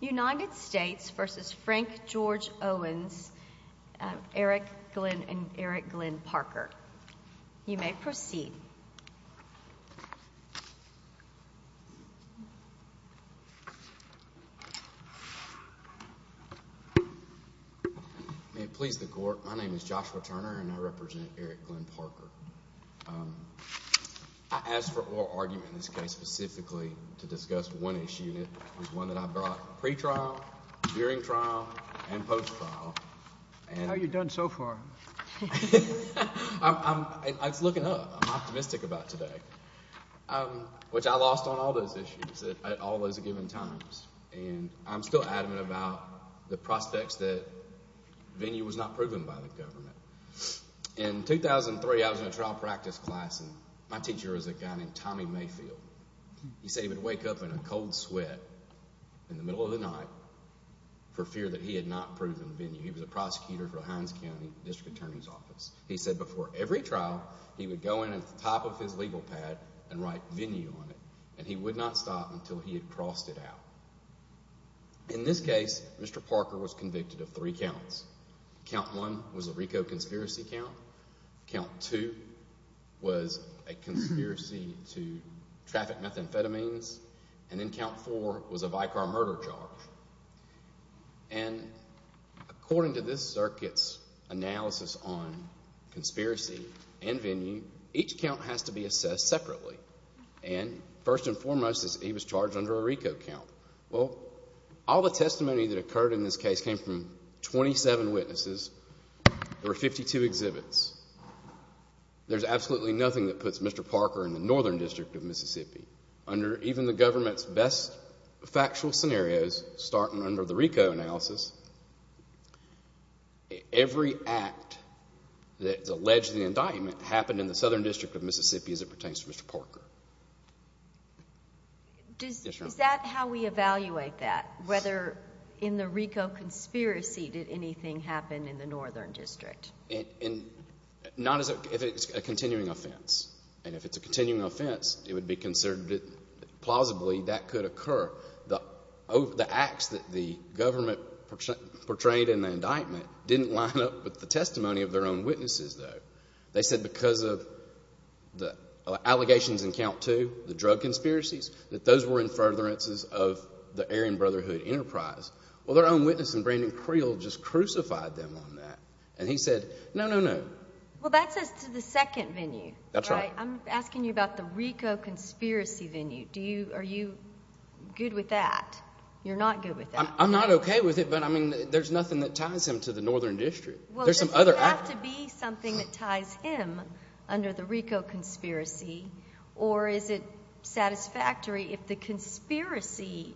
United States v. Frank George Owens, Eric Glenn, and Eric Glenn Parker. You may proceed. May it please the Court, my name is Joshua Turner and I represent Eric Glenn Parker. I asked for oral argument in this case specifically to discuss one issue and it was one that I brought pre-trial, during trial, and post-trial. How have you done so far? I'm looking up. I'm optimistic about today. Which I lost on all those issues at all those given times. And I'm still adamant about the prospects that venue was not proven by the government. In 2003, I was in a trial practice class and my teacher was a guy named Tommy Mayfield. He said he would wake up in a cold sweat in the middle of the night for fear that he had not proven venue. He was a prosecutor for Hines County District Attorney's Office. He said before every trial, he would go in at the top of his legal pad and write venue on it. And he would not stop until he had crossed it out. In this case, Mr. Parker was convicted of three counts. Count one was a RICO conspiracy count. Count two was a conspiracy to traffic methamphetamines. And then count four was a Vicar murder charge. And according to this circuit's analysis on conspiracy and venue, each count has to be assessed separately. And first and foremost, he was charged under a RICO count. Well, all the testimony that occurred in this case came from 27 witnesses. There were 52 exhibits. There's absolutely nothing that puts Mr. Parker in the Northern District of Mississippi. Under even the government's best factual scenarios, starting under the RICO analysis, every act that's alleged in the indictment happened in the Southern District of Mississippi as it pertains to Mr. Parker. Is that how we evaluate that? Whether in the RICO conspiracy did anything happen in the Northern District? Not if it's a continuing offense. And if it's a continuing offense, it would be considered plausibly that could occur. The acts that the government portrayed in the indictment didn't line up with the testimony of their own witnesses, though. They said because of the allegations in count two, the drug conspiracies, that those were in furtherances of the Aryan Brotherhood enterprise. Well, their own witness in Brandon Creel just crucified them on that. And he said, no, no, no. Well, that's as to the second venue, right? That's right. I'm asking you about the RICO conspiracy venue. Are you good with that? You're not good with that. I'm not okay with it, but, I mean, there's nothing that ties him to the Northern District. Well, does it have to be something that ties him under the RICO conspiracy, or is it satisfactory if the conspiracy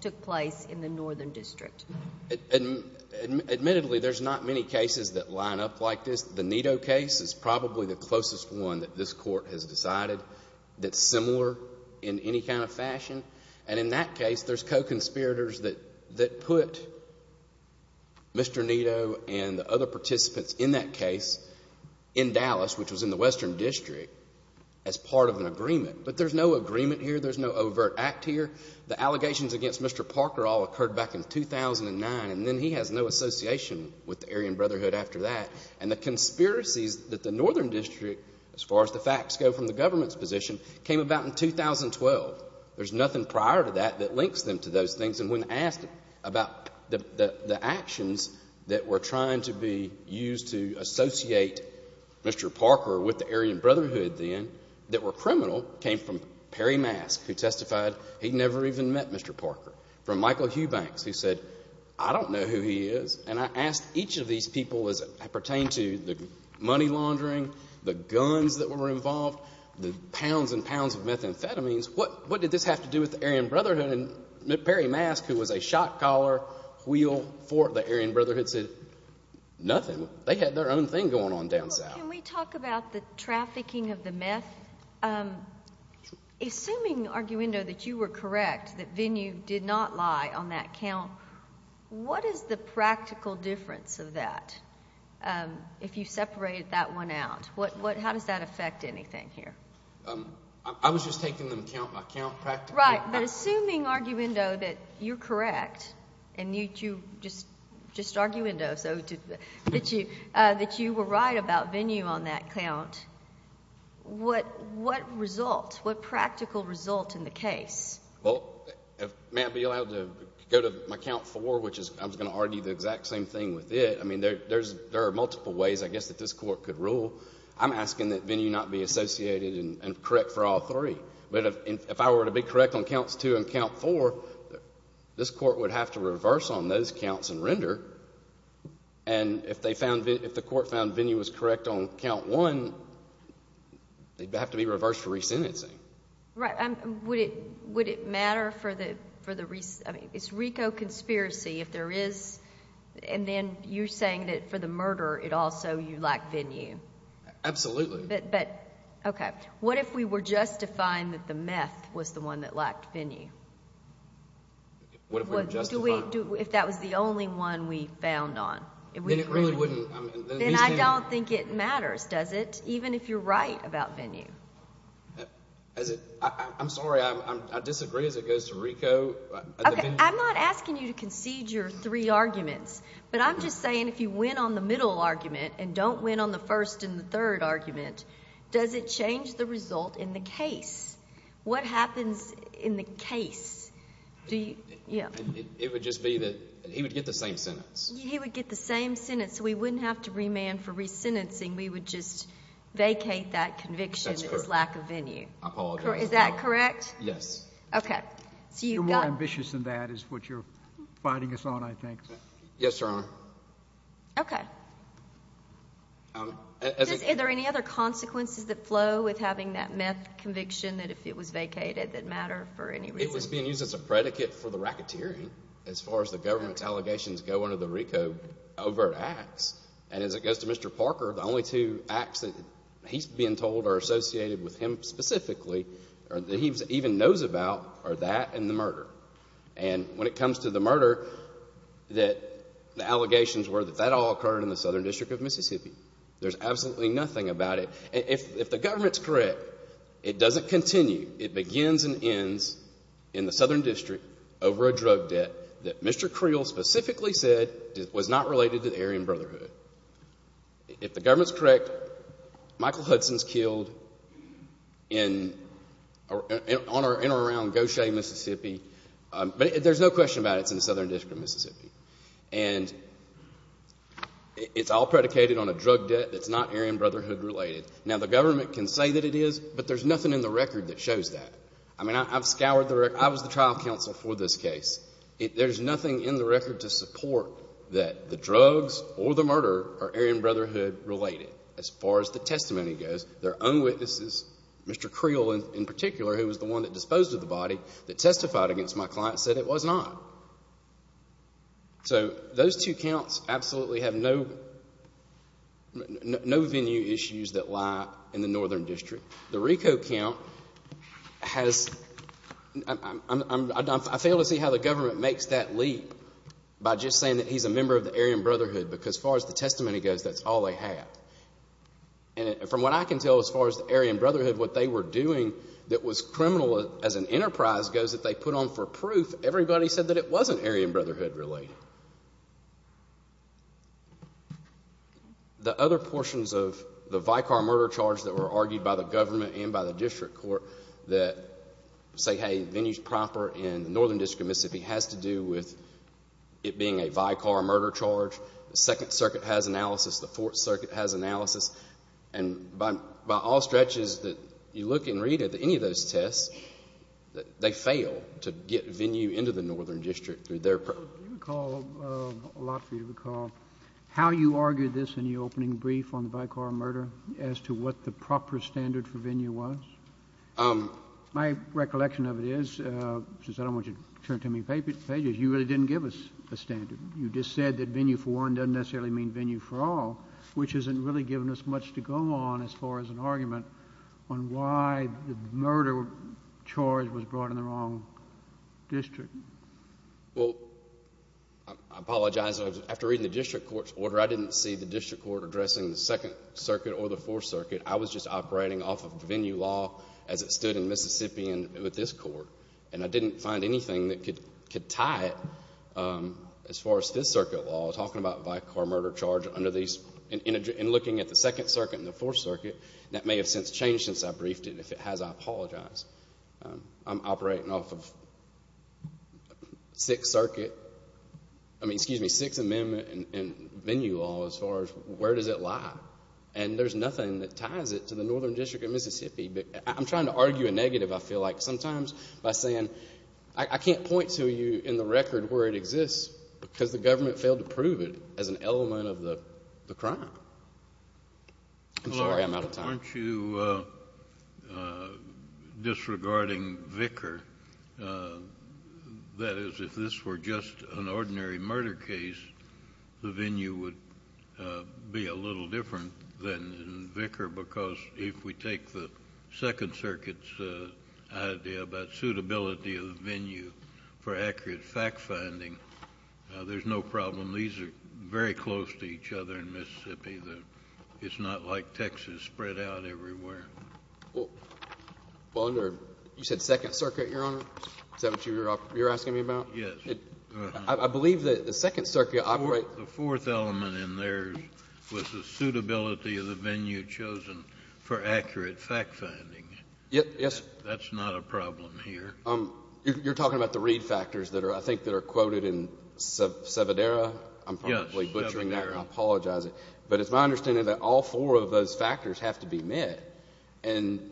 took place in the Northern District? Admittedly, there's not many cases that line up like this. The Nito case is probably the closest one that this Court has decided that's similar in any kind of fashion. And in that case, there's co-conspirators that put Mr. Nito and the other participants in that case in Dallas, which was in the Western District, as part of an agreement. But there's no agreement here. There's no overt act here. The allegations against Mr. Parker all occurred back in 2009, and then he has no association with the Aryan Brotherhood after that. And the conspiracies that the Northern District, as far as the facts go from the government's position, came about in 2012. There's nothing prior to that that links them to those things. And when asked about the actions that were trying to be used to associate Mr. Parker with the Aryan Brotherhood then, that were criminal, came from Perry Mask, who testified he never even met Mr. Parker. From Michael Hubanks, who said, I don't know who he is. And I asked each of these people as it pertained to the money laundering, the guns that were involved, the pounds and pounds of methamphetamines, what did this have to do with the Aryan Brotherhood? And Perry Mask, who was a shot-caller, wheeled for the Aryan Brotherhood, said nothing. They had their own thing going on down south. Can we talk about the trafficking of the meth? Assuming, Arguendo, that you were correct, that Venue did not lie on that count, what is the practical difference of that, if you separated that one out? How does that affect anything here? I was just taking them count by count practically. Right, but assuming, Arguendo, that you're correct, and you, just Arguendo, that you were right about Venue on that count, what result, what practical result in the case? Well, may I be allowed to go to my count four, which is, I was going to argue the exact same thing with it. I mean, there are multiple ways, I guess, that this Court could rule. I'm asking that Venue not be associated and correct for all three. But if I were to be correct on counts two and count four, this Court would have to reverse on those counts and render. And if they found, if the Court found Venue was correct on count one, they'd have to be reversed for resentencing. Right. Would it matter for the, I mean, it's RICO conspiracy. If there is, and then you're saying that for the murder, it also, you lack Venue. Absolutely. But, okay, what if we were justifying that the meth was the one that lacked Venue? What if we were justifying? Do we, if that was the only one we found on? Then it really wouldn't, I mean. Then I don't think it matters, does it, even if you're right about Venue? I'm sorry, I disagree as it goes to RICO. Okay, I'm not asking you to concede your three arguments, but I'm just saying if you win on the middle argument and don't win on the first and the third argument, does it change the result in the case? What happens in the case? It would just be that he would get the same sentence. He would get the same sentence, so we wouldn't have to remand for resentencing. We would just vacate that conviction for his lack of Venue. I apologize. Is that correct? Yes. Okay. You're more ambitious than that is what you're biting us on, I think. Yes, Your Honor. Okay. Are there any other consequences that flow with having that meth conviction that if it was vacated, it didn't matter for any reason? It was being used as a predicate for the racketeering as far as the government's allegations go under the RICO overt acts. And as it goes to Mr. Parker, the only two acts that he's being told are associated with him specifically or that he even knows about are that and the murder. And when it comes to the murder, the allegations were that that all occurred in the Southern District of Mississippi. There's absolutely nothing about it. If the government's correct, it doesn't continue. It begins and ends in the Southern District over a drug debt that Mr. Creel specifically said was not related to the Aryan Brotherhood. If the government's correct, Michael Hudson's killed in or around Gautier, Mississippi. But there's no question about it. It's in the Southern District of Mississippi. And it's all predicated on a drug debt that's not Aryan Brotherhood related. Now, the government can say that it is, but there's nothing in the record that shows that. I mean, I've scoured the record. I was the trial counsel for this case. There's nothing in the record to support that the drugs or the murder are Aryan Brotherhood related as far as the testimony goes. Their own witnesses, Mr. Creel in particular, who was the one that disposed of the body, that testified against my client said it was not. So those two counts absolutely have no venue issues that lie in the Northern District. The Rico count has—I fail to see how the government makes that leap by just saying that he's a member of the Aryan Brotherhood because as far as the testimony goes, that's all they have. And from what I can tell as far as the Aryan Brotherhood, what they were doing that was criminal as an enterprise goes that they put on for proof, everybody said that it wasn't Aryan Brotherhood related. The other portions of the Vicar murder charge that were argued by the government and by the district court that say, hey, venue's proper in the Northern District of Mississippi has to do with it being a Vicar murder charge. The Second Circuit has analysis. The Fourth Circuit has analysis. And by all stretches that you look and read at any of those tests, they fail to get venue into the Northern District through their— Do you recall—a lot of you recall how you argued this in your opening brief on the Vicar murder as to what the proper standard for venue was? My recollection of it is, since I don't want you to turn to me pages, you really didn't give us a standard. You just said that venue for one doesn't necessarily mean venue for all, which hasn't really given us much to go on as far as an argument on why the murder charge was brought in the wrong district. Well, I apologize. After reading the district court's order, after I didn't see the district court addressing the Second Circuit or the Fourth Circuit, I was just operating off of venue law as it stood in Mississippi with this court, and I didn't find anything that could tie it as far as Fifth Circuit law, talking about Vicar murder charge under these— and looking at the Second Circuit and the Fourth Circuit. That may have since changed since I briefed it. If it has, I apologize. I'm operating off of Sixth Circuit— I mean, excuse me, Sixth Amendment and venue law as far as where does it lie, and there's nothing that ties it to the Northern District of Mississippi. I'm trying to argue a negative, I feel like, sometimes by saying I can't point to you in the record where it exists because the government failed to prove it as an element of the crime. I'm sorry I'm out of time. Why aren't you disregarding Vicar? That is, if this were just an ordinary murder case, the venue would be a little different than in Vicar because if we take the Second Circuit's idea about suitability of the venue for accurate fact-finding, there's no problem. These are very close to each other in Mississippi. It's not like Texas spread out everywhere. Well, you said Second Circuit, Your Honor? Is that what you're asking me about? Yes. I believe that the Second Circuit operates— The fourth element in there was the suitability of the venue chosen for accurate fact-finding. Yes. That's not a problem here. You're talking about the read factors that are, I think, that are quoted in Sevedera? Yes. I'm probably butchering that and I apologize. But it's my understanding that all four of those factors have to be met. And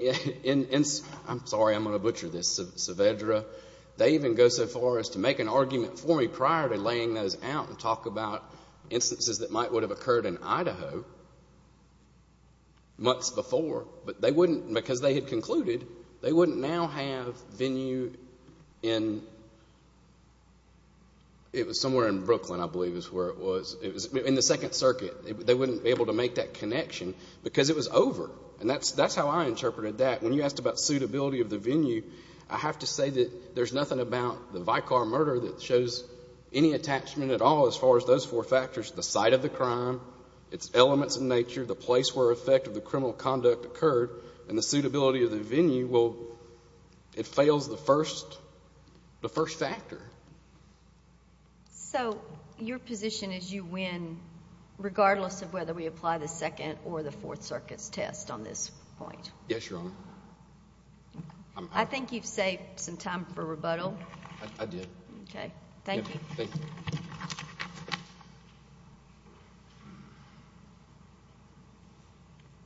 I'm sorry, I'm going to butcher this. Sevedera, they even go so far as to make an argument for me prior to laying those out and talk about instances that might would have occurred in Idaho months before. But they wouldn't, because they had concluded, they wouldn't now have venue in— it was somewhere in Brooklyn, I believe, is where it was. In the Second Circuit, they wouldn't be able to make that connection because it was over. And that's how I interpreted that. When you asked about suitability of the venue, I have to say that there's nothing about the Vicar murder that shows any attachment at all as far as those four factors, the site of the crime, its elements in nature, the place where effect of the criminal conduct occurred, and the suitability of the venue. Well, it fails the first factor. So your position is you win regardless of whether we apply the Second or the Fourth Circuit's test on this point? Yes, Your Honor. I think you've saved some time for rebuttal. I did. Okay. Thank you. Thank you.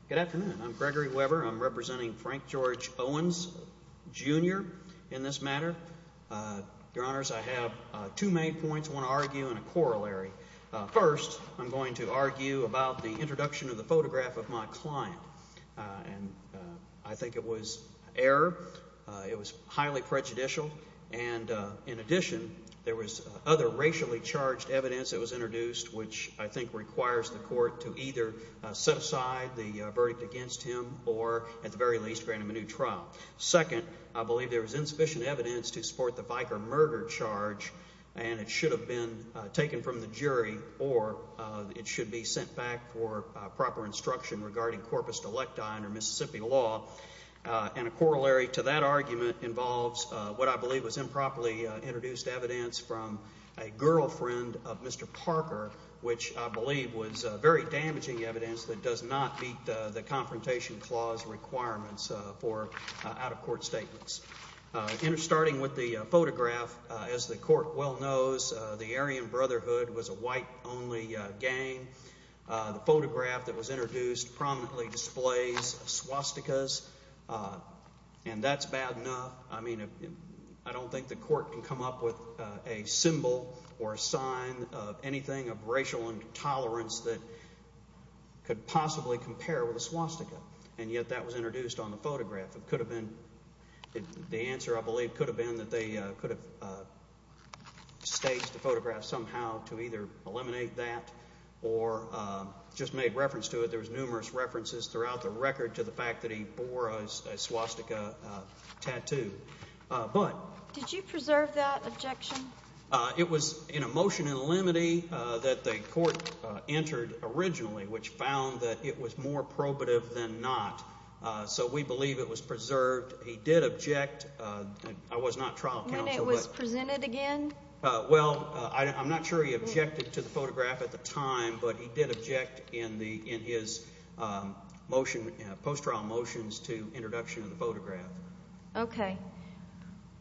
Good afternoon. I'm Gregory Weber. I'm representing Frank George Owens, Jr. in this matter. Your Honors, I have two main points I want to argue and a corollary. First, I'm going to argue about the introduction of the photograph of my client. And I think it was error. It was highly prejudicial. And in addition, there was other racially charged evidence that was introduced, which I think requires the court to either set aside the verdict against him or, at the very least, grant him a new trial. Second, I believe there was insufficient evidence to support the Viker murder charge, and it should have been taken from the jury or it should be sent back for proper instruction regarding corpus delicti under Mississippi law. And a corollary to that argument involves what I believe was improperly introduced evidence from a girlfriend of Mr. Parker, which I believe was very damaging evidence that does not meet the Confrontation Clause requirements for out-of-court statements. Starting with the photograph, as the court well knows, the Aryan Brotherhood was a white-only gang. The photograph that was introduced prominently displays swastikas, and that's bad enough. I mean, I don't think the court can come up with a symbol or a sign of anything of racial intolerance that could possibly compare with a swastika. And yet that was introduced on the photograph. It could have been. The answer, I believe, could have been that they could have staged the photograph somehow to either eliminate that or just made reference to it. There was numerous references throughout the record to the fact that he bore a swastika tattoo. But did you preserve that objection? It was in a motion in limine that the court entered originally, which found that it was more probative than not. So we believe it was preserved. He did object. I was not trial counsel. When it was presented again? Well, I'm not sure he objected to the photograph at the time, but he did object in his post-trial motions to introduction of the photograph. Okay.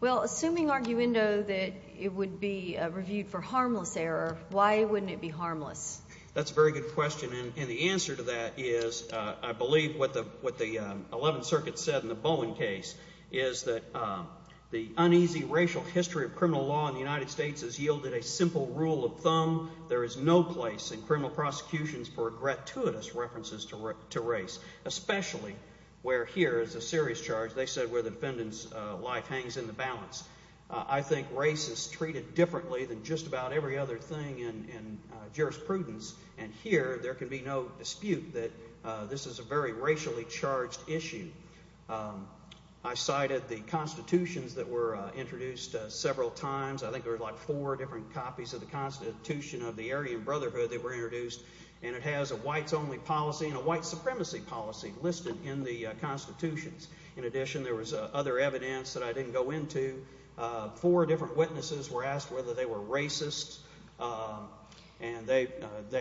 Well, assuming arguendo that it would be reviewed for harmless error, why wouldn't it be harmless? That's a very good question. And the answer to that is I believe what the Eleventh Circuit said in the Bowen case is that the uneasy racial history of criminal law in the United States has yielded a simple rule of thumb. There is no place in criminal prosecutions for gratuitous references to race, especially where here is a serious charge. They said where the defendant's life hangs in the balance. I think race is treated differently than just about every other thing in jurisprudence, and here there can be no dispute that this is a very racially charged issue. I cited the constitutions that were introduced several times. I think there were like four different copies of the Constitution of the Aryan Brotherhood that were introduced, and it has a whites-only policy and a white supremacy policy listed in the constitutions. In addition, there was other evidence that I didn't go into. Four different witnesses were asked whether they were racist, and they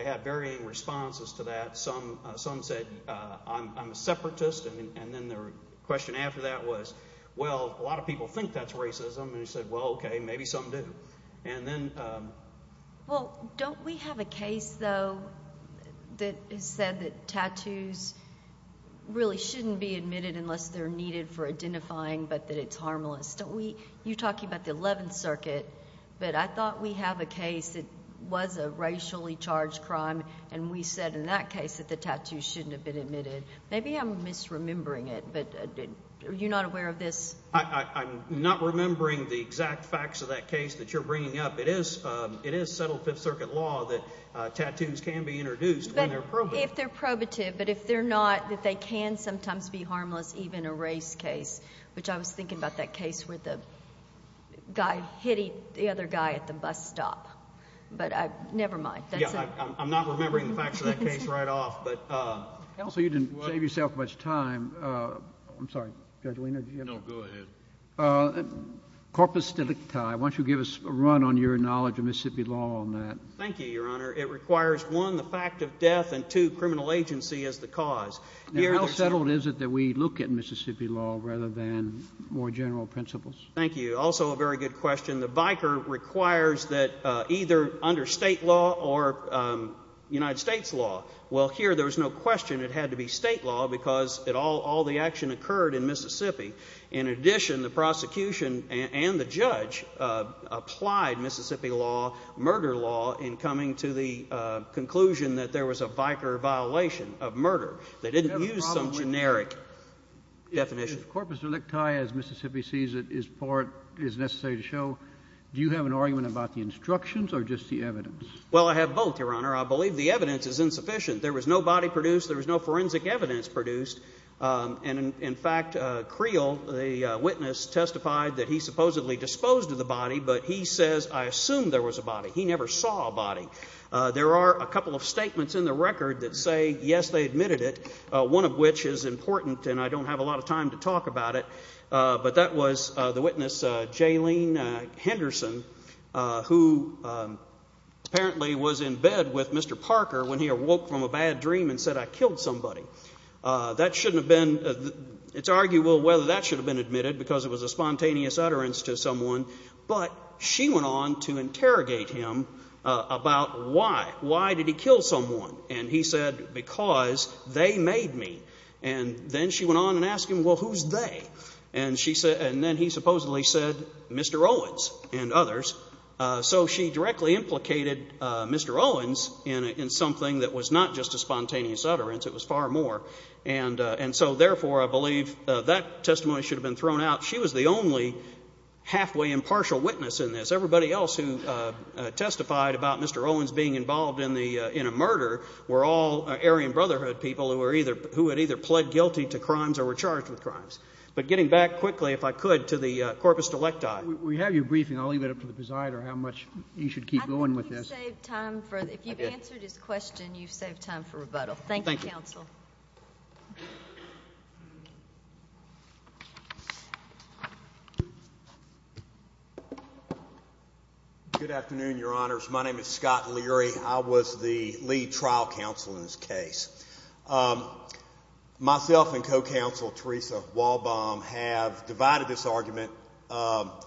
had varying responses to that. Some said, I'm a separatist, and then the question after that was, well, a lot of people think that's racism, and they said, well, okay, maybe some do. Well, don't we have a case, though, that said that tattoos really shouldn't be admitted unless they're needed for identifying, but that it's harmless? Don't we? You're talking about the Eleventh Circuit, but I thought we have a case that was a racially charged crime, and we said in that case that the tattoos shouldn't have been admitted. Maybe I'm misremembering it, but are you not aware of this? I'm not remembering the exact facts of that case that you're bringing up. It is settled Fifth Circuit law that tattoos can be introduced when they're probative. But if they're probative, but if they're not, that they can sometimes be harmless, even a race case, which I was thinking about that case where the guy hit the other guy at the bus stop. But never mind. I'm not remembering the facts of that case right off. Counsel, you didn't save yourself much time. I'm sorry. Judge Weiner, did you have a question? No, go ahead. Corpus delicti. Why don't you give us a run on your knowledge of Mississippi law on that? Thank you, Your Honor. It requires, one, the fact of death, and, two, criminal agency as the cause. And how settled is it that we look at Mississippi law rather than more general principles? Thank you. Also a very good question. The biker requires that either under State law or United States law. Well, here there was no question it had to be State law because all the action occurred in Mississippi. In addition, the prosecution and the judge applied Mississippi law, murder law, in coming to the conclusion that there was a biker violation of murder. They didn't use some generic definition. If corpus delicti, as Mississippi sees it, is necessary to show, do you have an argument about the instructions or just the evidence? Well, I have both, Your Honor. I believe the evidence is insufficient. There was no body produced. There was no forensic evidence produced. And, in fact, Creel, the witness, testified that he supposedly disposed of the body, but he says, I assume there was a body. He never saw a body. There are a couple of statements in the record that say, yes, they admitted it, one of which is important and I don't have a lot of time to talk about it, but that was the witness, Jalene Henderson, who apparently was in bed with Mr. Parker when he awoke from a bad dream and said, I killed somebody. That shouldn't have been, it's arguable whether that should have been admitted because it was a spontaneous utterance to someone, but she went on to interrogate him about why. Why did he kill someone? And he said, because they made me. And then she went on and asked him, well, who's they? And then he supposedly said, Mr. Owens and others. So she directly implicated Mr. Owens in something that was not just a spontaneous utterance. It was far more. And so, therefore, I believe that testimony should have been thrown out. She was the only halfway impartial witness in this. Everybody else who testified about Mr. Owens being involved in a murder were all who had either pled guilty to crimes or were charged with crimes. But getting back quickly, if I could, to the corpus delecti. We have your briefing. I'll leave it up to the presider how much you should keep going with this. I think you've saved time for, if you've answered his question, you've saved time for rebuttal. Thank you, counsel. Thank you. Good afternoon, Your Honors. My name is Scott Leary. I was the lead trial counsel in this case. Myself and co-counsel Teresa Walbaum have divided this argument, although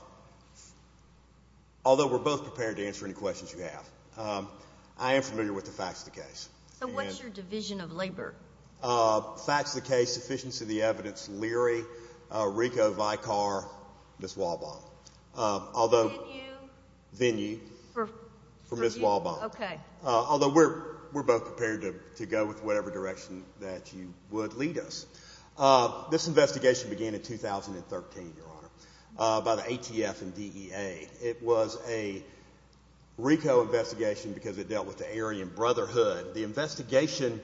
we're both prepared to answer any questions you have. I am familiar with the facts of the case. So what's your division of labor? Facts of the case, sufficiency of the evidence, Leary, Rico, Vicar, Ms. Walbaum. Venue? Venue. For you? For Ms. Walbaum. Okay. Although we're both prepared to go with whatever direction that you would lead us. This investigation began in 2013, Your Honor, by the ATF and DEA. It was a Rico investigation because it dealt with the Aryan Brotherhood. The investigation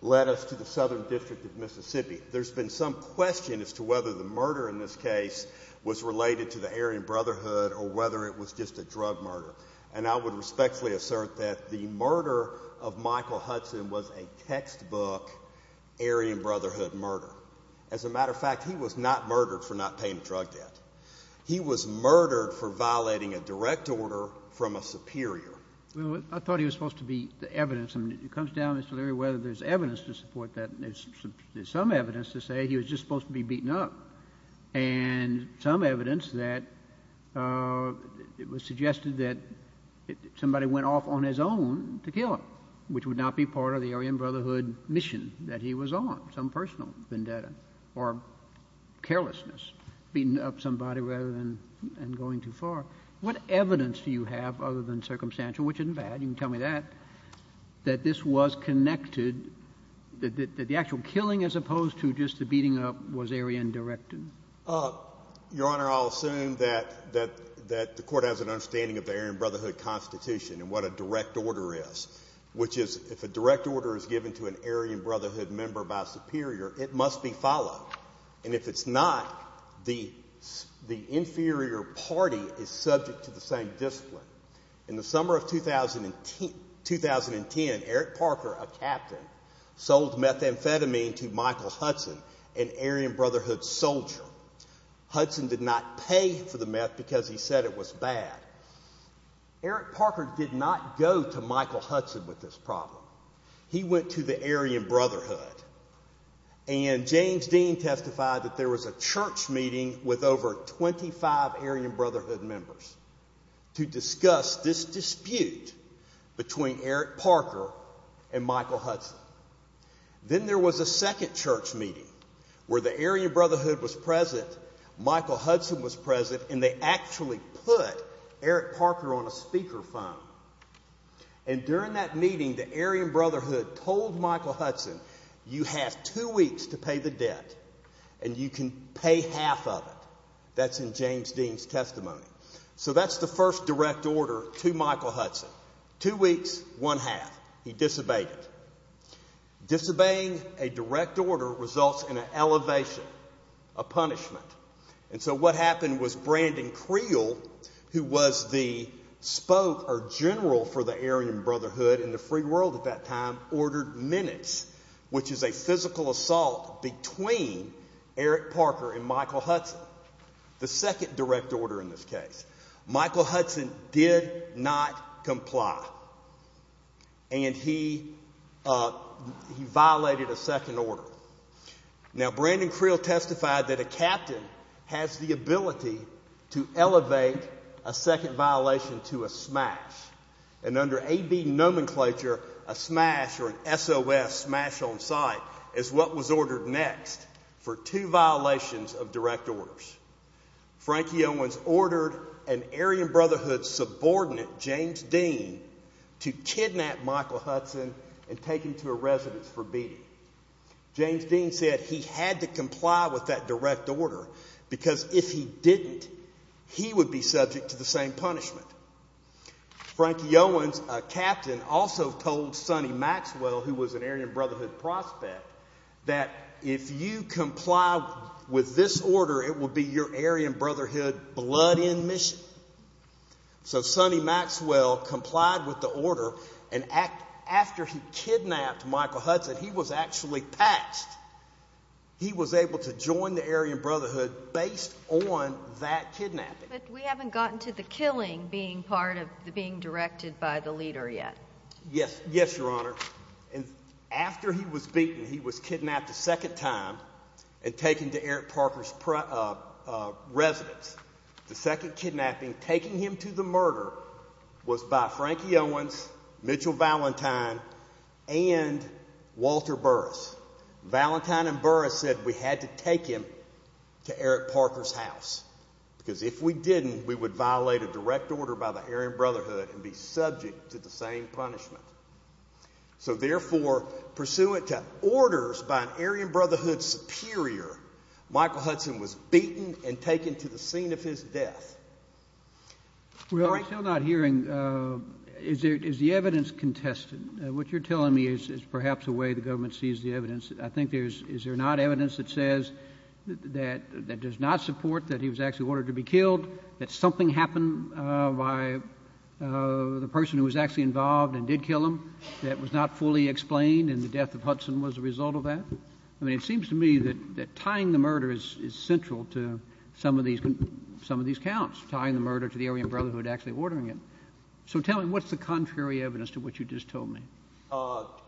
led us to the Southern District of Mississippi. There's been some question as to whether the murder in this case was related to the Aryan Brotherhood or whether it was just a drug murder. And I would respectfully assert that the murder of Michael Hudson was a textbook Aryan Brotherhood murder. As a matter of fact, he was not murdered for not paying drug debt. He was murdered for violating a direct order from a superior. Well, I thought he was supposed to be the evidence. I mean, it comes down as to whether there's evidence to support that. There's some evidence to say he was just supposed to be beaten up. And some evidence that it was suggested that somebody went off on his own to kill him, which would not be part of the Aryan Brotherhood mission that he was on, some personal vendetta or carelessness, beating up somebody rather than going too far. What evidence do you have other than circumstantial, which isn't bad, you can tell me that, that this was connected, that the actual killing as opposed to just the beating up was Aryan directed? Your Honor, I'll assume that the Court has an understanding of the Aryan Brotherhood Constitution and what a direct order is, which is if a direct order is given to an Aryan Brotherhood member by a superior, it must be followed. And if it's not, the inferior party is subject to the same discipline. In the summer of 2010, Eric Parker, a captain, sold methamphetamine to Michael Hudson, an Aryan Brotherhood soldier. Hudson did not pay for the meth because he said it was bad. Eric Parker did not go to Michael Hudson with this problem. He went to the Aryan Brotherhood. And James Dean testified that there was a church meeting with over 25 Aryan Brotherhood members to discuss this dispute between Eric Parker and Michael Hudson. Then there was a second church meeting where the Aryan Brotherhood was present, Michael Hudson was present, and they actually put Eric Parker on a speaker phone. And during that meeting, the Aryan Brotherhood told Michael Hudson, you have two weeks to pay the debt and you can pay half of it. That's in James Dean's testimony. So that's the first direct order to Michael Hudson. Two weeks, one half. He disobeyed it. Disobeying a direct order results in an elevation, a punishment. And so what happened was Brandon Creel, who was the spoke or general for the Aryan Brotherhood in the free world at that time, ordered minutes, which is a physical assault between Eric Parker and Michael Hudson, the second direct order in this case. Michael Hudson did not comply. And he violated a second order. Now, Brandon Creel testified that a captain has the ability to elevate a second violation to a smash. And under AB nomenclature, a smash or an SOS, smash on sight, is what was ordered next for two violations of direct orders. Frankie Owens ordered an Aryan Brotherhood subordinate, James Dean, to kidnap Michael Hudson and take him to a residence for beating. James Dean said he had to comply with that direct order because if he didn't, he would be subject to the same punishment. Frankie Owens, a captain, also told Sonny Maxwell, who was an Aryan Brotherhood prospect, that if you comply with this order, it will be your Aryan Brotherhood blood end mission. So Sonny Maxwell complied with the order, and after he kidnapped Michael Hudson, he was actually patched. He was able to join the Aryan Brotherhood based on that kidnapping. But we haven't gotten to the killing being part of being directed by the leader yet. Yes. Yes, Your Honor. And after he was beaten, he was kidnapped a second time and taken to Eric Parker's residence. The second kidnapping, taking him to the murder, was by Frankie Owens, Mitchell Valentine, and Walter Burris. Valentine and Burris said we had to take him to Eric Parker's house because if we didn't, we would violate a direct order by the Aryan Brotherhood and be subject to the same punishment. So therefore, pursuant to orders by an Aryan Brotherhood superior, Michael Hudson was beaten and taken to the scene of his death. Well, I'm still not hearing, is the evidence contested? What you're telling me is perhaps the way the government sees the evidence. I think there's, is there not evidence that says that does not support that he was actually ordered to be killed, that something happened by the person who was actually involved and did kill him that was not fully explained, and the death of Hudson was a result of that? I mean, it seems to me that tying the murder is central to some of these counts, tying the murder to the Aryan Brotherhood actually ordering it. So tell me, what's the contrary evidence to what you just told me?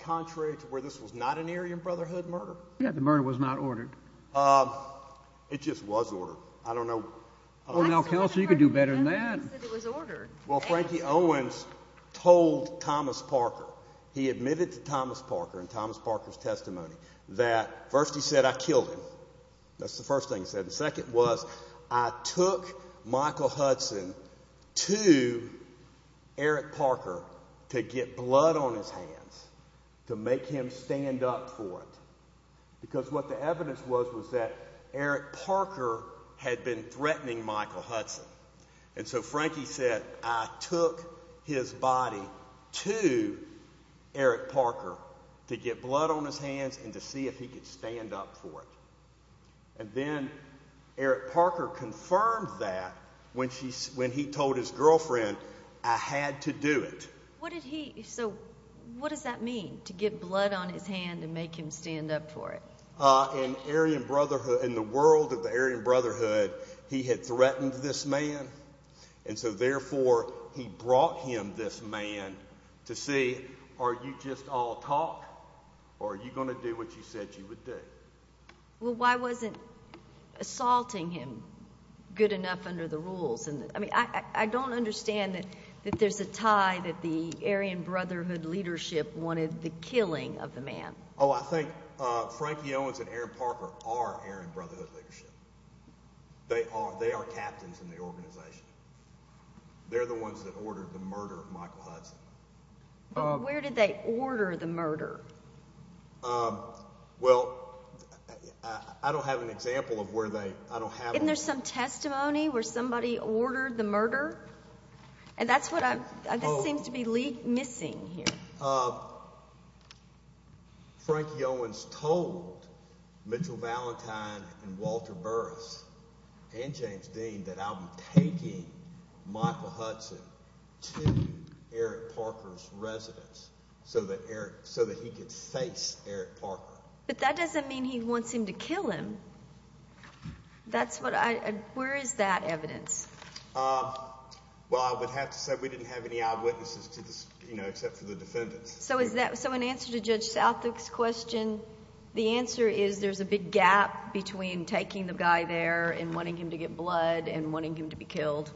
Contrary to where this was not an Aryan Brotherhood murder? Yeah, the murder was not ordered. It just was ordered. I don't know. Well, now, Kelsey, you could do better than that. Well, Frankie Owens told Thomas Parker, he admitted to Thomas Parker and Thomas Parker's testimony that first he said, I killed him. That's the first thing he said. The second was, I took Michael Hudson to Eric Parker to get blood on his hands, to make him stand up for it. Because what the evidence was was that Eric Parker had been threatening Michael Hudson. And so Frankie said, I took his body to Eric Parker to get blood on his hands and to see if he could stand up for it. And then Eric Parker confirmed that when he told his girlfriend, I had to do it. So what does that mean, to get blood on his hand and make him stand up for it? In Aryan Brotherhood, in the world of the Aryan Brotherhood, he had threatened this man. And so, therefore, he brought him this man to see, are you just all talk? Or are you going to do what you said you would do? Well, why wasn't assaulting him good enough under the rules? I mean, I don't understand that there's a tie that the Aryan Brotherhood leadership wanted the killing of the man. Oh, I think Frankie Owens and Eric Parker are Aryan Brotherhood leadership. They are captains in the organization. They're the ones that ordered the murder of Michael Hudson. But where did they order the murder? Well, I don't have an example of where they – I don't have – Isn't there some testimony where somebody ordered the murder? And that's what I'm – this seems to be missing here. Frankie Owens told Mitchell Valentine and Walter Burris and James Dean that I'll be taking Michael Hudson to Eric Parker's residence so that he could face Eric Parker. But that doesn't mean he wants him to kill him. That's what I – where is that evidence? Well, I would have to say we didn't have any eyewitnesses to this, you know, except for the defendants. So is that – so in answer to Judge Southwick's question, the answer is there's a big gap between taking the guy there and wanting him to get blood and wanting him to be killed.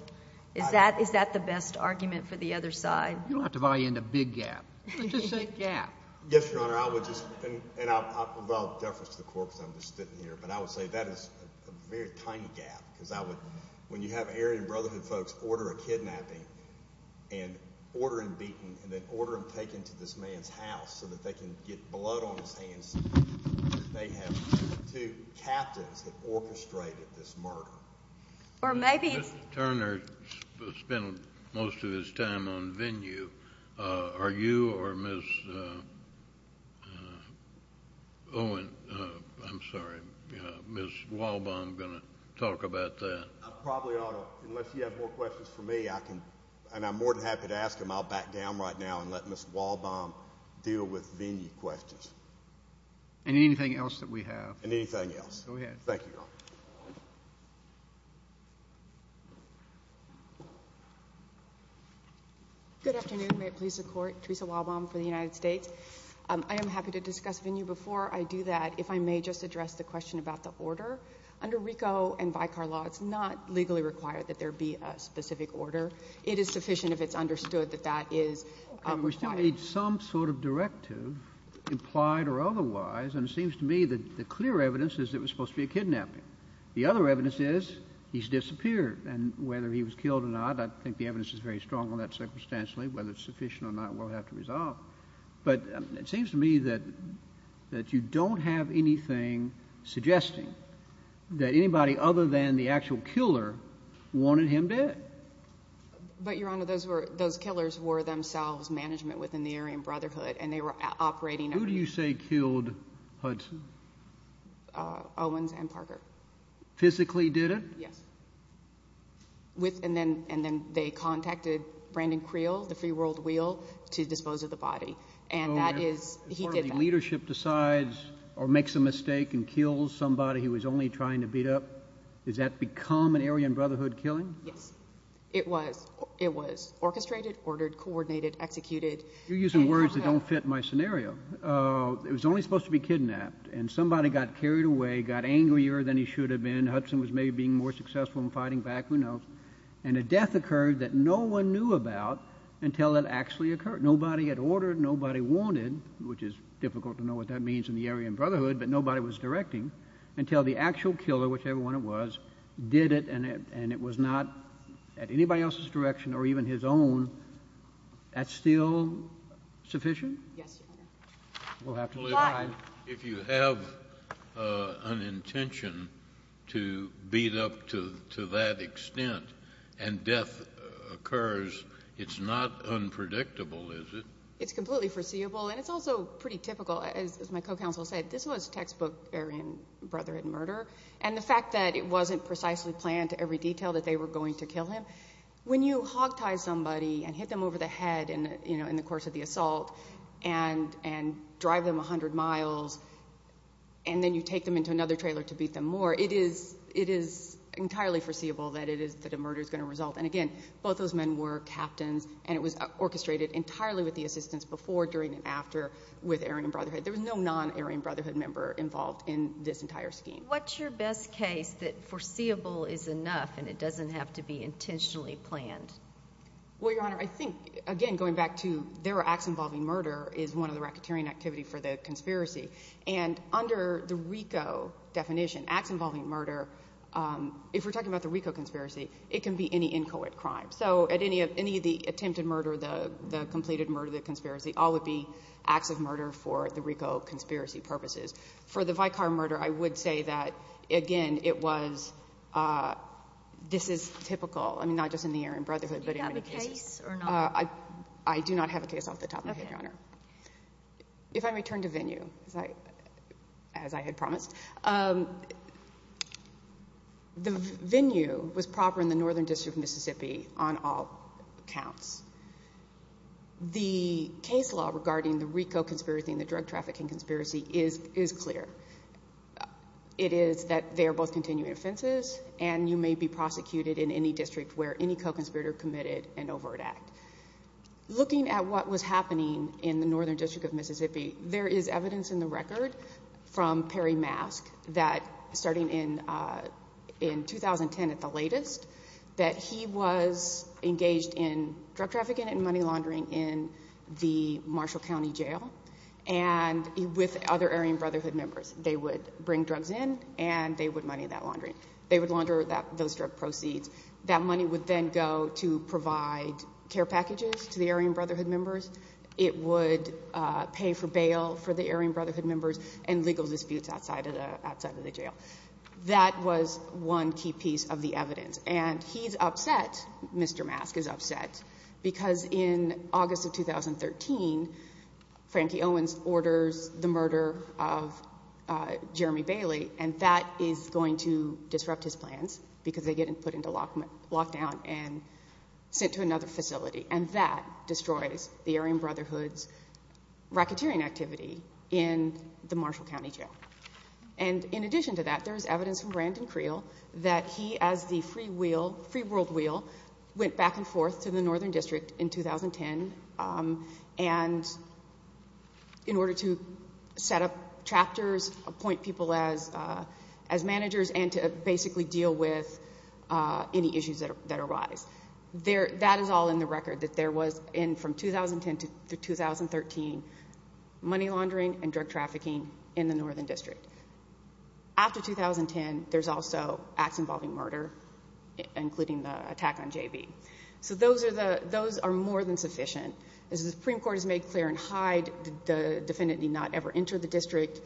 Is that the best argument for the other side? You don't have to buy into big gap. Just say gap. Yes, Your Honor. I would just – and I'll deference the court because I'm just sitting here. But I would say that is a very tiny gap because I would – when you have Aryan Brotherhood folks order a kidnapping and order him beaten and then order him taken to this man's house so that they can get blood on his hands, they have two captains that orchestrated this murder. Or maybe –– spent most of his time on venue. Are you or Ms. Owen – I'm sorry, Ms. Walbaum going to talk about that? I probably ought to. Unless you have more questions for me, I can – and I'm more than happy to ask them. I'll back down right now and let Ms. Walbaum deal with venue questions. And anything else that we have. And anything else. Go ahead. Thank you, Your Honor. Good afternoon. May it please the court. Teresa Walbaum for the United States. I am happy to discuss venue before I do that. If I may just address the question about the order. Under RICO and Vicar law, it's not legally required that there be a specific order. It is sufficient if it's understood that that is required. We still need some sort of directive, implied or otherwise. And it seems to me that the clear evidence is it was supposed to be a kidnapping. The other evidence is he's disappeared. And whether he was killed or not, I think the evidence is very strong on that circumstantially. Whether it's sufficient or not, we'll have to resolve. But it seems to me that you don't have anything suggesting that anybody other than the actual killer wanted him dead. But, Your Honor, those were – those killers were themselves management within the Aryan Brotherhood. And they were operating – Who do you say killed Hudson? Owens and Parker. Physically did it? Yes. And then they contacted Brandon Creel, the free world wheel, to dispose of the body. And that is – he did that. So when the leadership decides or makes a mistake and kills somebody he was only trying to beat up, does that become an Aryan Brotherhood killing? Yes. It was. It was orchestrated, ordered, coordinated, executed. You're using words that don't fit my scenario. It was only supposed to be kidnapped. And somebody got carried away, got angrier than he should have been. Hudson was maybe being more successful in fighting back. Who knows? And a death occurred that no one knew about until it actually occurred. Nobody had ordered. Nobody wanted, which is difficult to know what that means in the Aryan Brotherhood, but nobody was directing until the actual killer, whichever one it was, did it, and it was not at anybody else's direction or even his own. That's still sufficient? Yes, Your Honor. We'll have to provide – to beat up to that extent and death occurs, it's not unpredictable, is it? It's completely foreseeable, and it's also pretty typical. As my co-counsel said, this was textbook Aryan Brotherhood murder, and the fact that it wasn't precisely planned to every detail that they were going to kill him, when you hogtie somebody and hit them over the head in the course of the assault and drive them 100 miles and then you take them into another trailer to beat them more, it is entirely foreseeable that a murder is going to result. And again, both those men were captains, and it was orchestrated entirely with the assistance before, during, and after with Aryan Brotherhood. There was no non-Aryan Brotherhood member involved in this entire scheme. What's your best case that foreseeable is enough and it doesn't have to be intentionally planned? Well, Your Honor, I think, again, going back to their acts involving murder is one of the racketeering activity for the conspiracy, and under the RICO definition, acts involving murder, if we're talking about the RICO conspiracy, it can be any inchoate crime. So at any of the attempted murder, the completed murder, the conspiracy, all would be acts of murder for the RICO conspiracy purposes. For the Vicar murder, I would say that, again, it was – this is typical. I mean, not just in the Aryan Brotherhood, but in many cases. Do you have a case or not? I do not have a case off the top of my head, Your Honor. Okay. If I may turn to venue, as I had promised, the venue was proper in the Northern District of Mississippi on all counts. The case law regarding the RICO conspiracy and the drug trafficking conspiracy is clear. It is that they are both continuing offenses, and you may be prosecuted in any district where any co-conspirator committed an overt act. Looking at what was happening in the Northern District of Mississippi, there is evidence in the record from Perry Mask that, starting in 2010 at the latest, that he was engaged in drug trafficking and money laundering in the Marshall County Jail and with other Aryan Brotherhood members. They would bring drugs in, and they would money that laundering. They would launder those drug proceeds. That money would then go to provide care packages to the Aryan Brotherhood members. It would pay for bail for the Aryan Brotherhood members and legal disputes outside of the jail. That was one key piece of the evidence. And he's upset, Mr. Mask is upset, because in August of 2013, Frankie Owens orders the murder of Jeremy Bailey, and that is going to disrupt his plans because they get him put into lockdown and sent to another facility, and that destroys the Aryan Brotherhood's racketeering activity in the Marshall County Jail. And in addition to that, there is evidence from Brandon Creel that he, as the free world wheel, went back and forth to the Northern District in 2010, and in order to set up chapters, appoint people as managers, and to basically deal with any issues that arise. That is all in the record, that there was, from 2010 to 2013, money laundering and drug trafficking in the Northern District. After 2010, there's also acts involving murder, including the attack on JB. So those are more than sufficient. As the Supreme Court has made clear in Hyde, the defendant did not ever enter the district.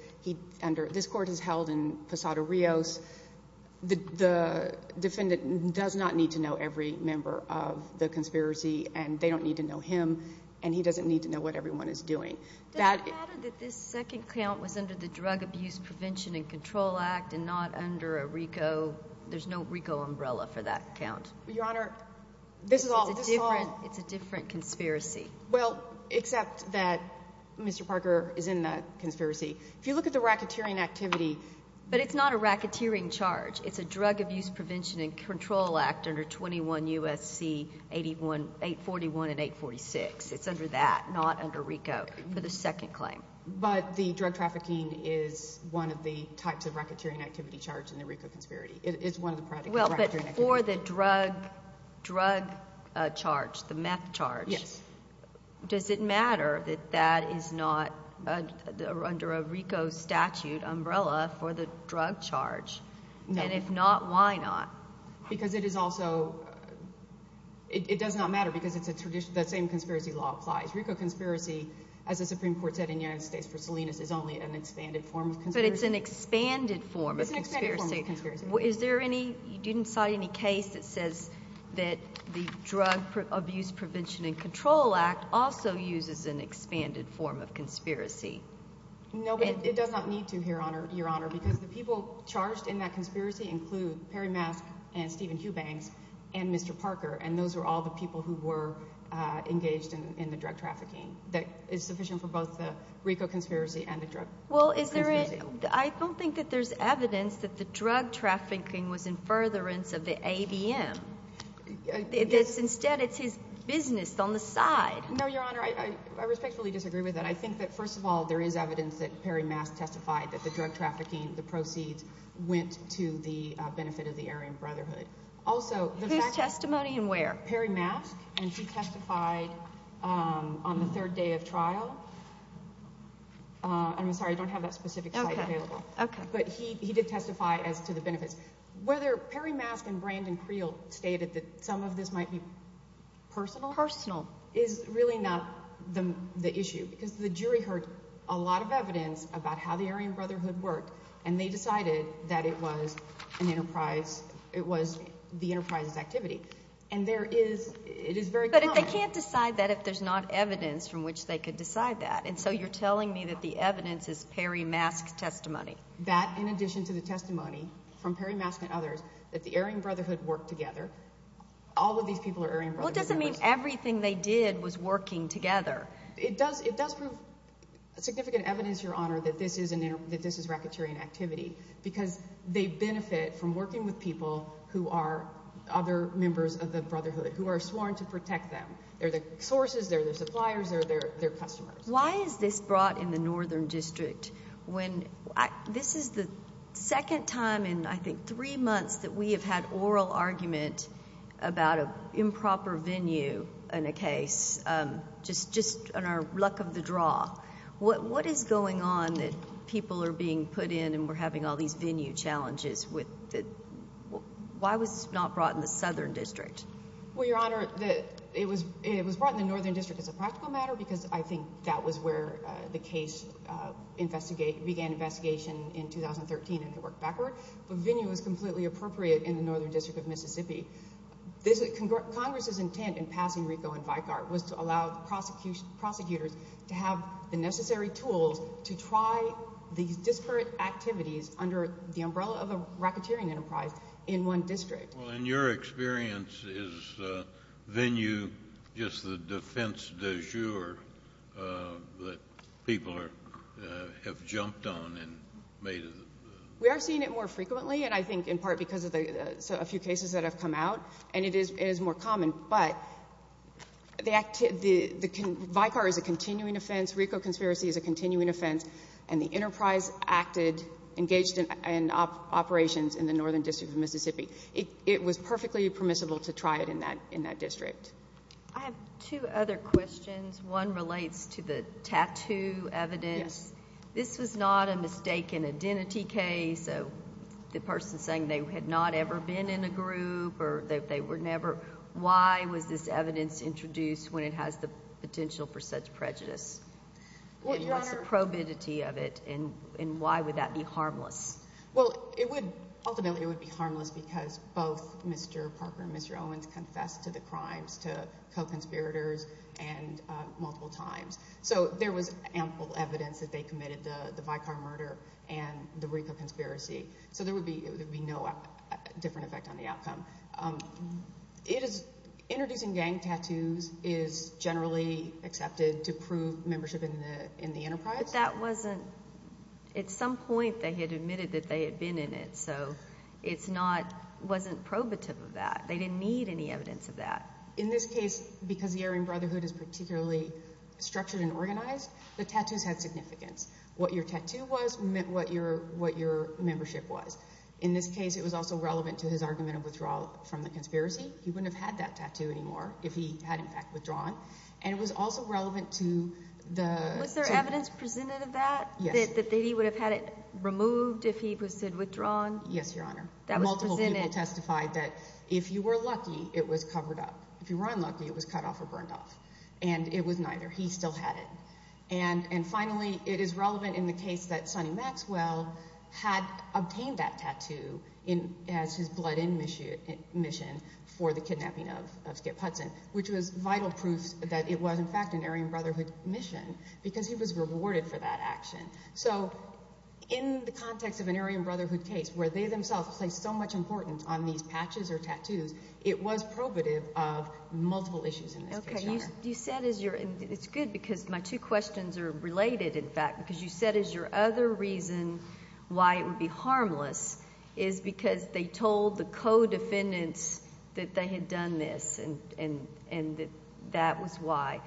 This court has held in Posada Rios. The defendant does not need to know every member of the conspiracy, and they don't need to know him, and he doesn't need to know what everyone is doing. Does it matter that this second count was under the Drug Abuse Prevention and Control Act and not under a RICO? There's no RICO umbrella for that count. Your Honor, this is all... It's a different conspiracy. Well, except that Mr. Parker is in the conspiracy. If you look at the racketeering activity... But it's not a racketeering charge. It's a Drug Abuse Prevention and Control Act under 21 U.S.C. 841 and 846. It's under that, not under RICO, for the second claim. But the drug trafficking is one of the types of racketeering activity charged in the RICO conspiracy. Well, but for the drug charge, the meth charge, does it matter that that is not under a RICO statute umbrella for the drug charge? And if not, why not? Because it is also... it does not matter because the same conspiracy law applies. RICO conspiracy, as the Supreme Court said in United States v. Salinas, is only an expanded form of conspiracy. But it's an expanded form of conspiracy. Is there any... you didn't cite any case that says that the Drug Abuse Prevention and Control Act also uses an expanded form of conspiracy? No, but it does not need to here, Your Honor, because the people charged in that conspiracy include Perry Mask and Stephen Hughbanks and Mr. Parker, and those are all the people who were engaged in the drug trafficking. That is sufficient for both the RICO conspiracy and the Drug Abuse Museum. Well, is there a... I don't think that there's evidence that the drug trafficking was in furtherance of the ABM. Instead, it's his business on the side. No, Your Honor, I respectfully disagree with that. I think that, first of all, there is evidence that Perry Mask testified that the drug trafficking, the proceeds, went to the benefit of the Aryan Brotherhood. Whose testimony and where? Perry Mask, and she testified on the third day of trial. I'm sorry, I don't have that specific site available. Okay. But he did testify as to the benefits. Whether Perry Mask and Brandon Creel stated that some of this might be personal... Personal.... is really not the issue, because the jury heard a lot of evidence about how the Aryan Brotherhood worked, and they decided that it was an enterprise... it was the enterprise's activity. And there is... it is very common. But they can't decide that if there's not evidence from which they could decide that. And so, you're telling me that the evidence is Perry Mask's testimony. That, in addition to the testimony from Perry Mask and others, that the Aryan Brotherhood worked together. All of these people are Aryan Brotherhood members. Well, it doesn't mean everything they did was working together. It does prove significant evidence, Your Honor, that this is racketeering activity, because they benefit from working with people who are other members of the Brotherhood, who are sworn to protect them. They're their sources. They're their suppliers. They're their customers. Why is this brought in the Northern District when... This is the second time in, I think, three months that we have had oral argument about an improper venue in a case, just on our luck of the draw. What is going on that people are being put in and we're having all these venue challenges with the... Why was this not brought in the Southern District? Well, Your Honor, it was brought in the Northern District as a practical matter, because I think that was where the case began investigation in 2013 and could work backward. But venue was completely appropriate in the Northern District of Mississippi. Congress's intent in passing RICO and VICAR was to allow the prosecutors to have the necessary tools to try these disparate activities under the umbrella of a racketeering enterprise in one district. Well, in your experience, is venue just the defense de jure that people have jumped on and made... And it is more common, but VICAR is a continuing offense. RICO conspiracy is a continuing offense. And the enterprise acted, engaged in operations in the Northern District of Mississippi. It was perfectly permissible to try it in that district. I have two other questions. One relates to the tattoo evidence. This was not a mistaken identity case. So the person saying they had not ever been in a group or they were never... Why was this evidence introduced when it has the potential for such prejudice? And what's the probity of it, and why would that be harmless? Well, ultimately it would be harmless because both Mr. Parker and Mr. Owens confessed to the crimes, to co-conspirators, and multiple times. So there was ample evidence that they committed the VICAR murder and the RICO conspiracy. So there would be no different effect on the outcome. Introducing gang tattoos is generally accepted to prove membership in the enterprise. But that wasn't... At some point they had admitted that they had been in it, so it's not... It wasn't probative of that. They didn't need any evidence of that. In this case, because the Aryan Brotherhood is particularly structured and organized, the tattoos had significance. What your tattoo was meant what your membership was. In this case, it was also relevant to his argument of withdrawal from the conspiracy. He wouldn't have had that tattoo anymore if he had, in fact, withdrawn. And it was also relevant to the... Was there evidence presented of that? Yes. That he would have had it removed if he had withdrawn? Yes, Your Honor. Multiple people testified that if you were lucky, it was covered up. If you were unlucky, it was cut off or burned off. And it was neither. He still had it. And finally, it is relevant in the case that Sonny Maxwell had obtained that tattoo as his blood-in mission for the kidnapping of Skip Hudson, which was vital proof that it was, in fact, an Aryan Brotherhood mission because he was rewarded for that action. So in the context of an Aryan Brotherhood case where they themselves placed so much importance on these patches or tattoos, it was probative of multiple issues in this case, Your Honor. Okay. You said as your—and it's good because my two questions are related, in fact, because you said as your other reason why it would be harmless is because they told the co-defendants that they had done this and that that was why.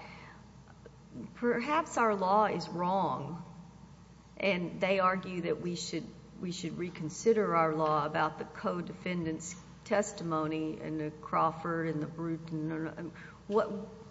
Perhaps our law is wrong, and they argue that we should reconsider our law about the co-defendants' testimony and the Crawford and the Bruton.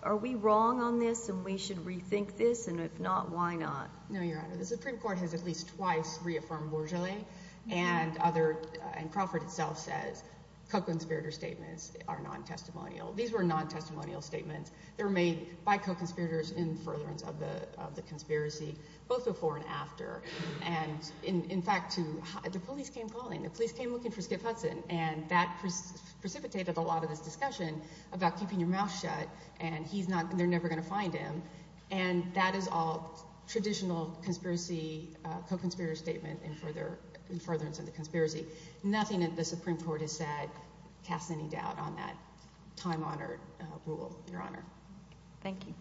Are we wrong on this and we should rethink this? And if not, why not? No, Your Honor. The Supreme Court has at least twice reaffirmed Bourgeollais and other—and Crawford itself says Koeckensberger statements are non-testimonial. These were non-testimonial statements. They were made by co-conspirators in furtherance of the conspiracy, both before and after. And, in fact, the police came calling. The police came looking for Skip Hudson, and that precipitated a lot of this discussion about keeping your mouth shut and he's not—they're never going to find him. And that is all traditional conspiracy, co-conspirator statement in furtherance of the conspiracy. Nothing that the Supreme Court has said casts any doubt on that time-honored rule, Your Honor. Thank you.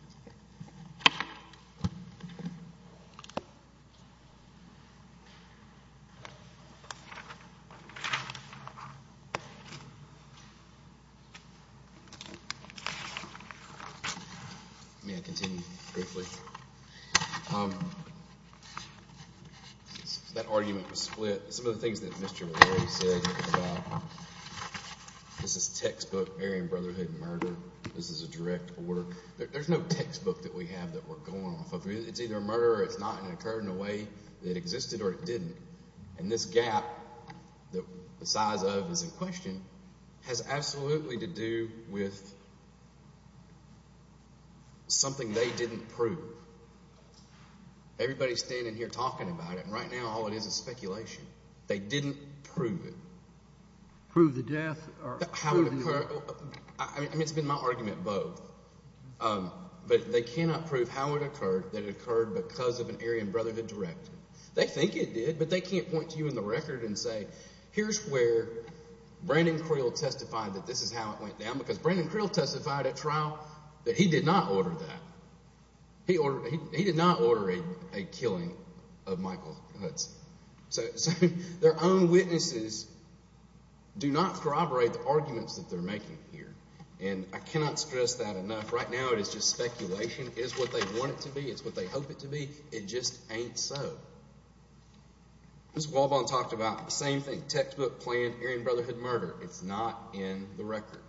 May I continue briefly? That argument was split. Some of the things that Mr. O'Leary said about this is textbook Aryan Brotherhood murder, this is a direct order. There's no textbook that we have that we're going off of. It's either a murder or it's not, and it occurred in a way that it existed or it didn't. And this gap that the size of is in question has absolutely to do with something they didn't prove. Everybody is standing here talking about it, and right now all it is is speculation. They didn't prove it. Prove the death or prove the murder? I mean it's been my argument both, but they cannot prove how it occurred that it occurred because of an Aryan Brotherhood directive. They think it did, but they can't point to you in the record and say here's where Brandon Creel testified that this is how it went down because Brandon Creel testified at trial that he did not order that. He did not order a killing of Michael Hudson. So their own witnesses do not corroborate the arguments that they're making here, and I cannot stress that enough. Right now it is just speculation. It is what they want it to be. It's what they hope it to be. It just ain't so. Mr. Walbaugh talked about the same thing, textbook, plan, Aryan Brotherhood murder. It's not in the record.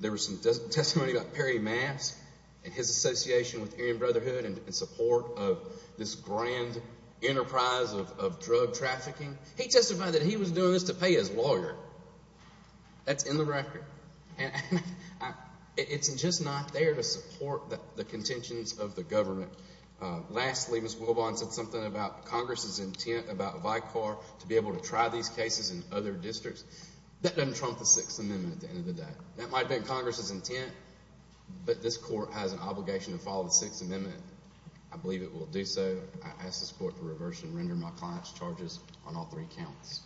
There was some testimony about Perry Mask and his association with Aryan Brotherhood in support of this grand enterprise of drug trafficking. He testified that he was doing this to pay his lawyer. That's in the record. And it's just not there to support the contentions of the government. Lastly, Ms. Wilbaugh said something about Congress's intent about Vicar to be able to try these cases in other districts. That doesn't trump the Sixth Amendment at the end of the day. That might have been Congress's intent, but this court has an obligation to follow the Sixth Amendment. I believe it will do so. I ask this court to reverse and render my client's charges on all three counts.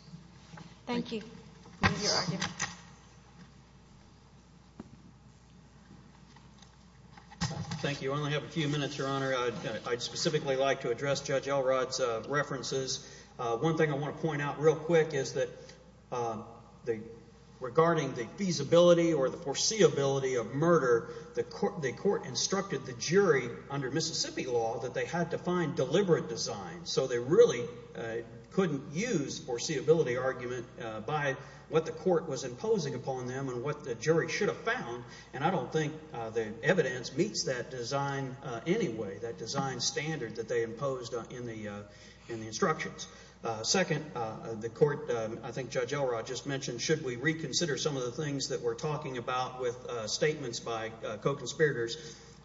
Thank you. Thank you. Thank you. Thank you. I only have a few minutes, Your Honor. I'd specifically like to address Judge Elrod's references. One thing I want to point out real quick is that regarding the feasibility or the foreseeability of murder, the court instructed the jury under Mississippi law that they had to find deliberate designs. So they really couldn't use foreseeability argument by what the court was imposing upon them and what the jury should have found. And I don't think the evidence meets that design anyway, that design standard that they imposed in the instructions. Second, the court, I think Judge Elrod just mentioned, should we reconsider some of the things that we're talking about with statements by co-conspirators?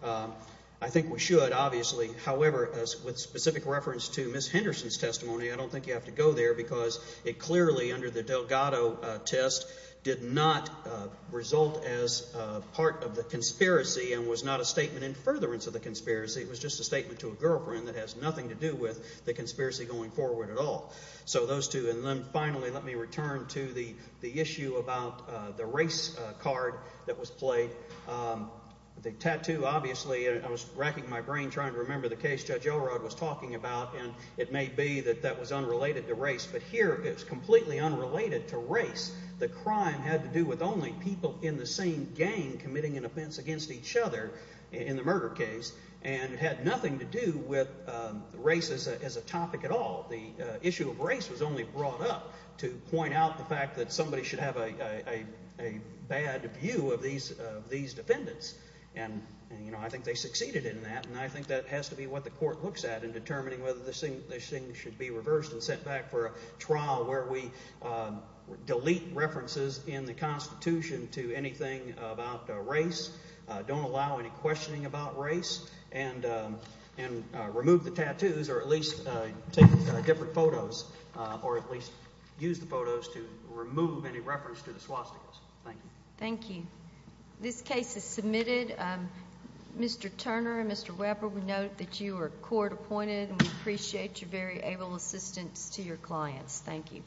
I think we should, obviously. However, with specific reference to Ms. Henderson's testimony, I don't think you have to go there because it clearly under the Delgado test did not result as part of the conspiracy and was not a statement in furtherance of the conspiracy. It was just a statement to a girlfriend that has nothing to do with the conspiracy going forward at all. So those two. And then finally, let me return to the issue about the race card that was played. The tattoo, obviously, I was racking my brain trying to remember the case Judge Elrod was talking about, and it may be that that was unrelated to race. But here it was completely unrelated to race. The crime had to do with only people in the same gang committing an offense against each other in the murder case, and it had nothing to do with race as a topic at all. The issue of race was only brought up to point out the fact that somebody should have a bad view of these defendants. And I think they succeeded in that, and I think that has to be what the court looks at in determining whether this thing should be reversed and sent back for a trial where we delete references in the Constitution to anything about race. Don't allow any questioning about race, and remove the tattoos or at least take different photos or at least use the photos to remove any reference to the swastikas. Thank you. Thank you. This case is submitted. Mr. Turner and Mr. Weber, we note that you are court appointed, and we appreciate your very able assistance to your clients. Thank you.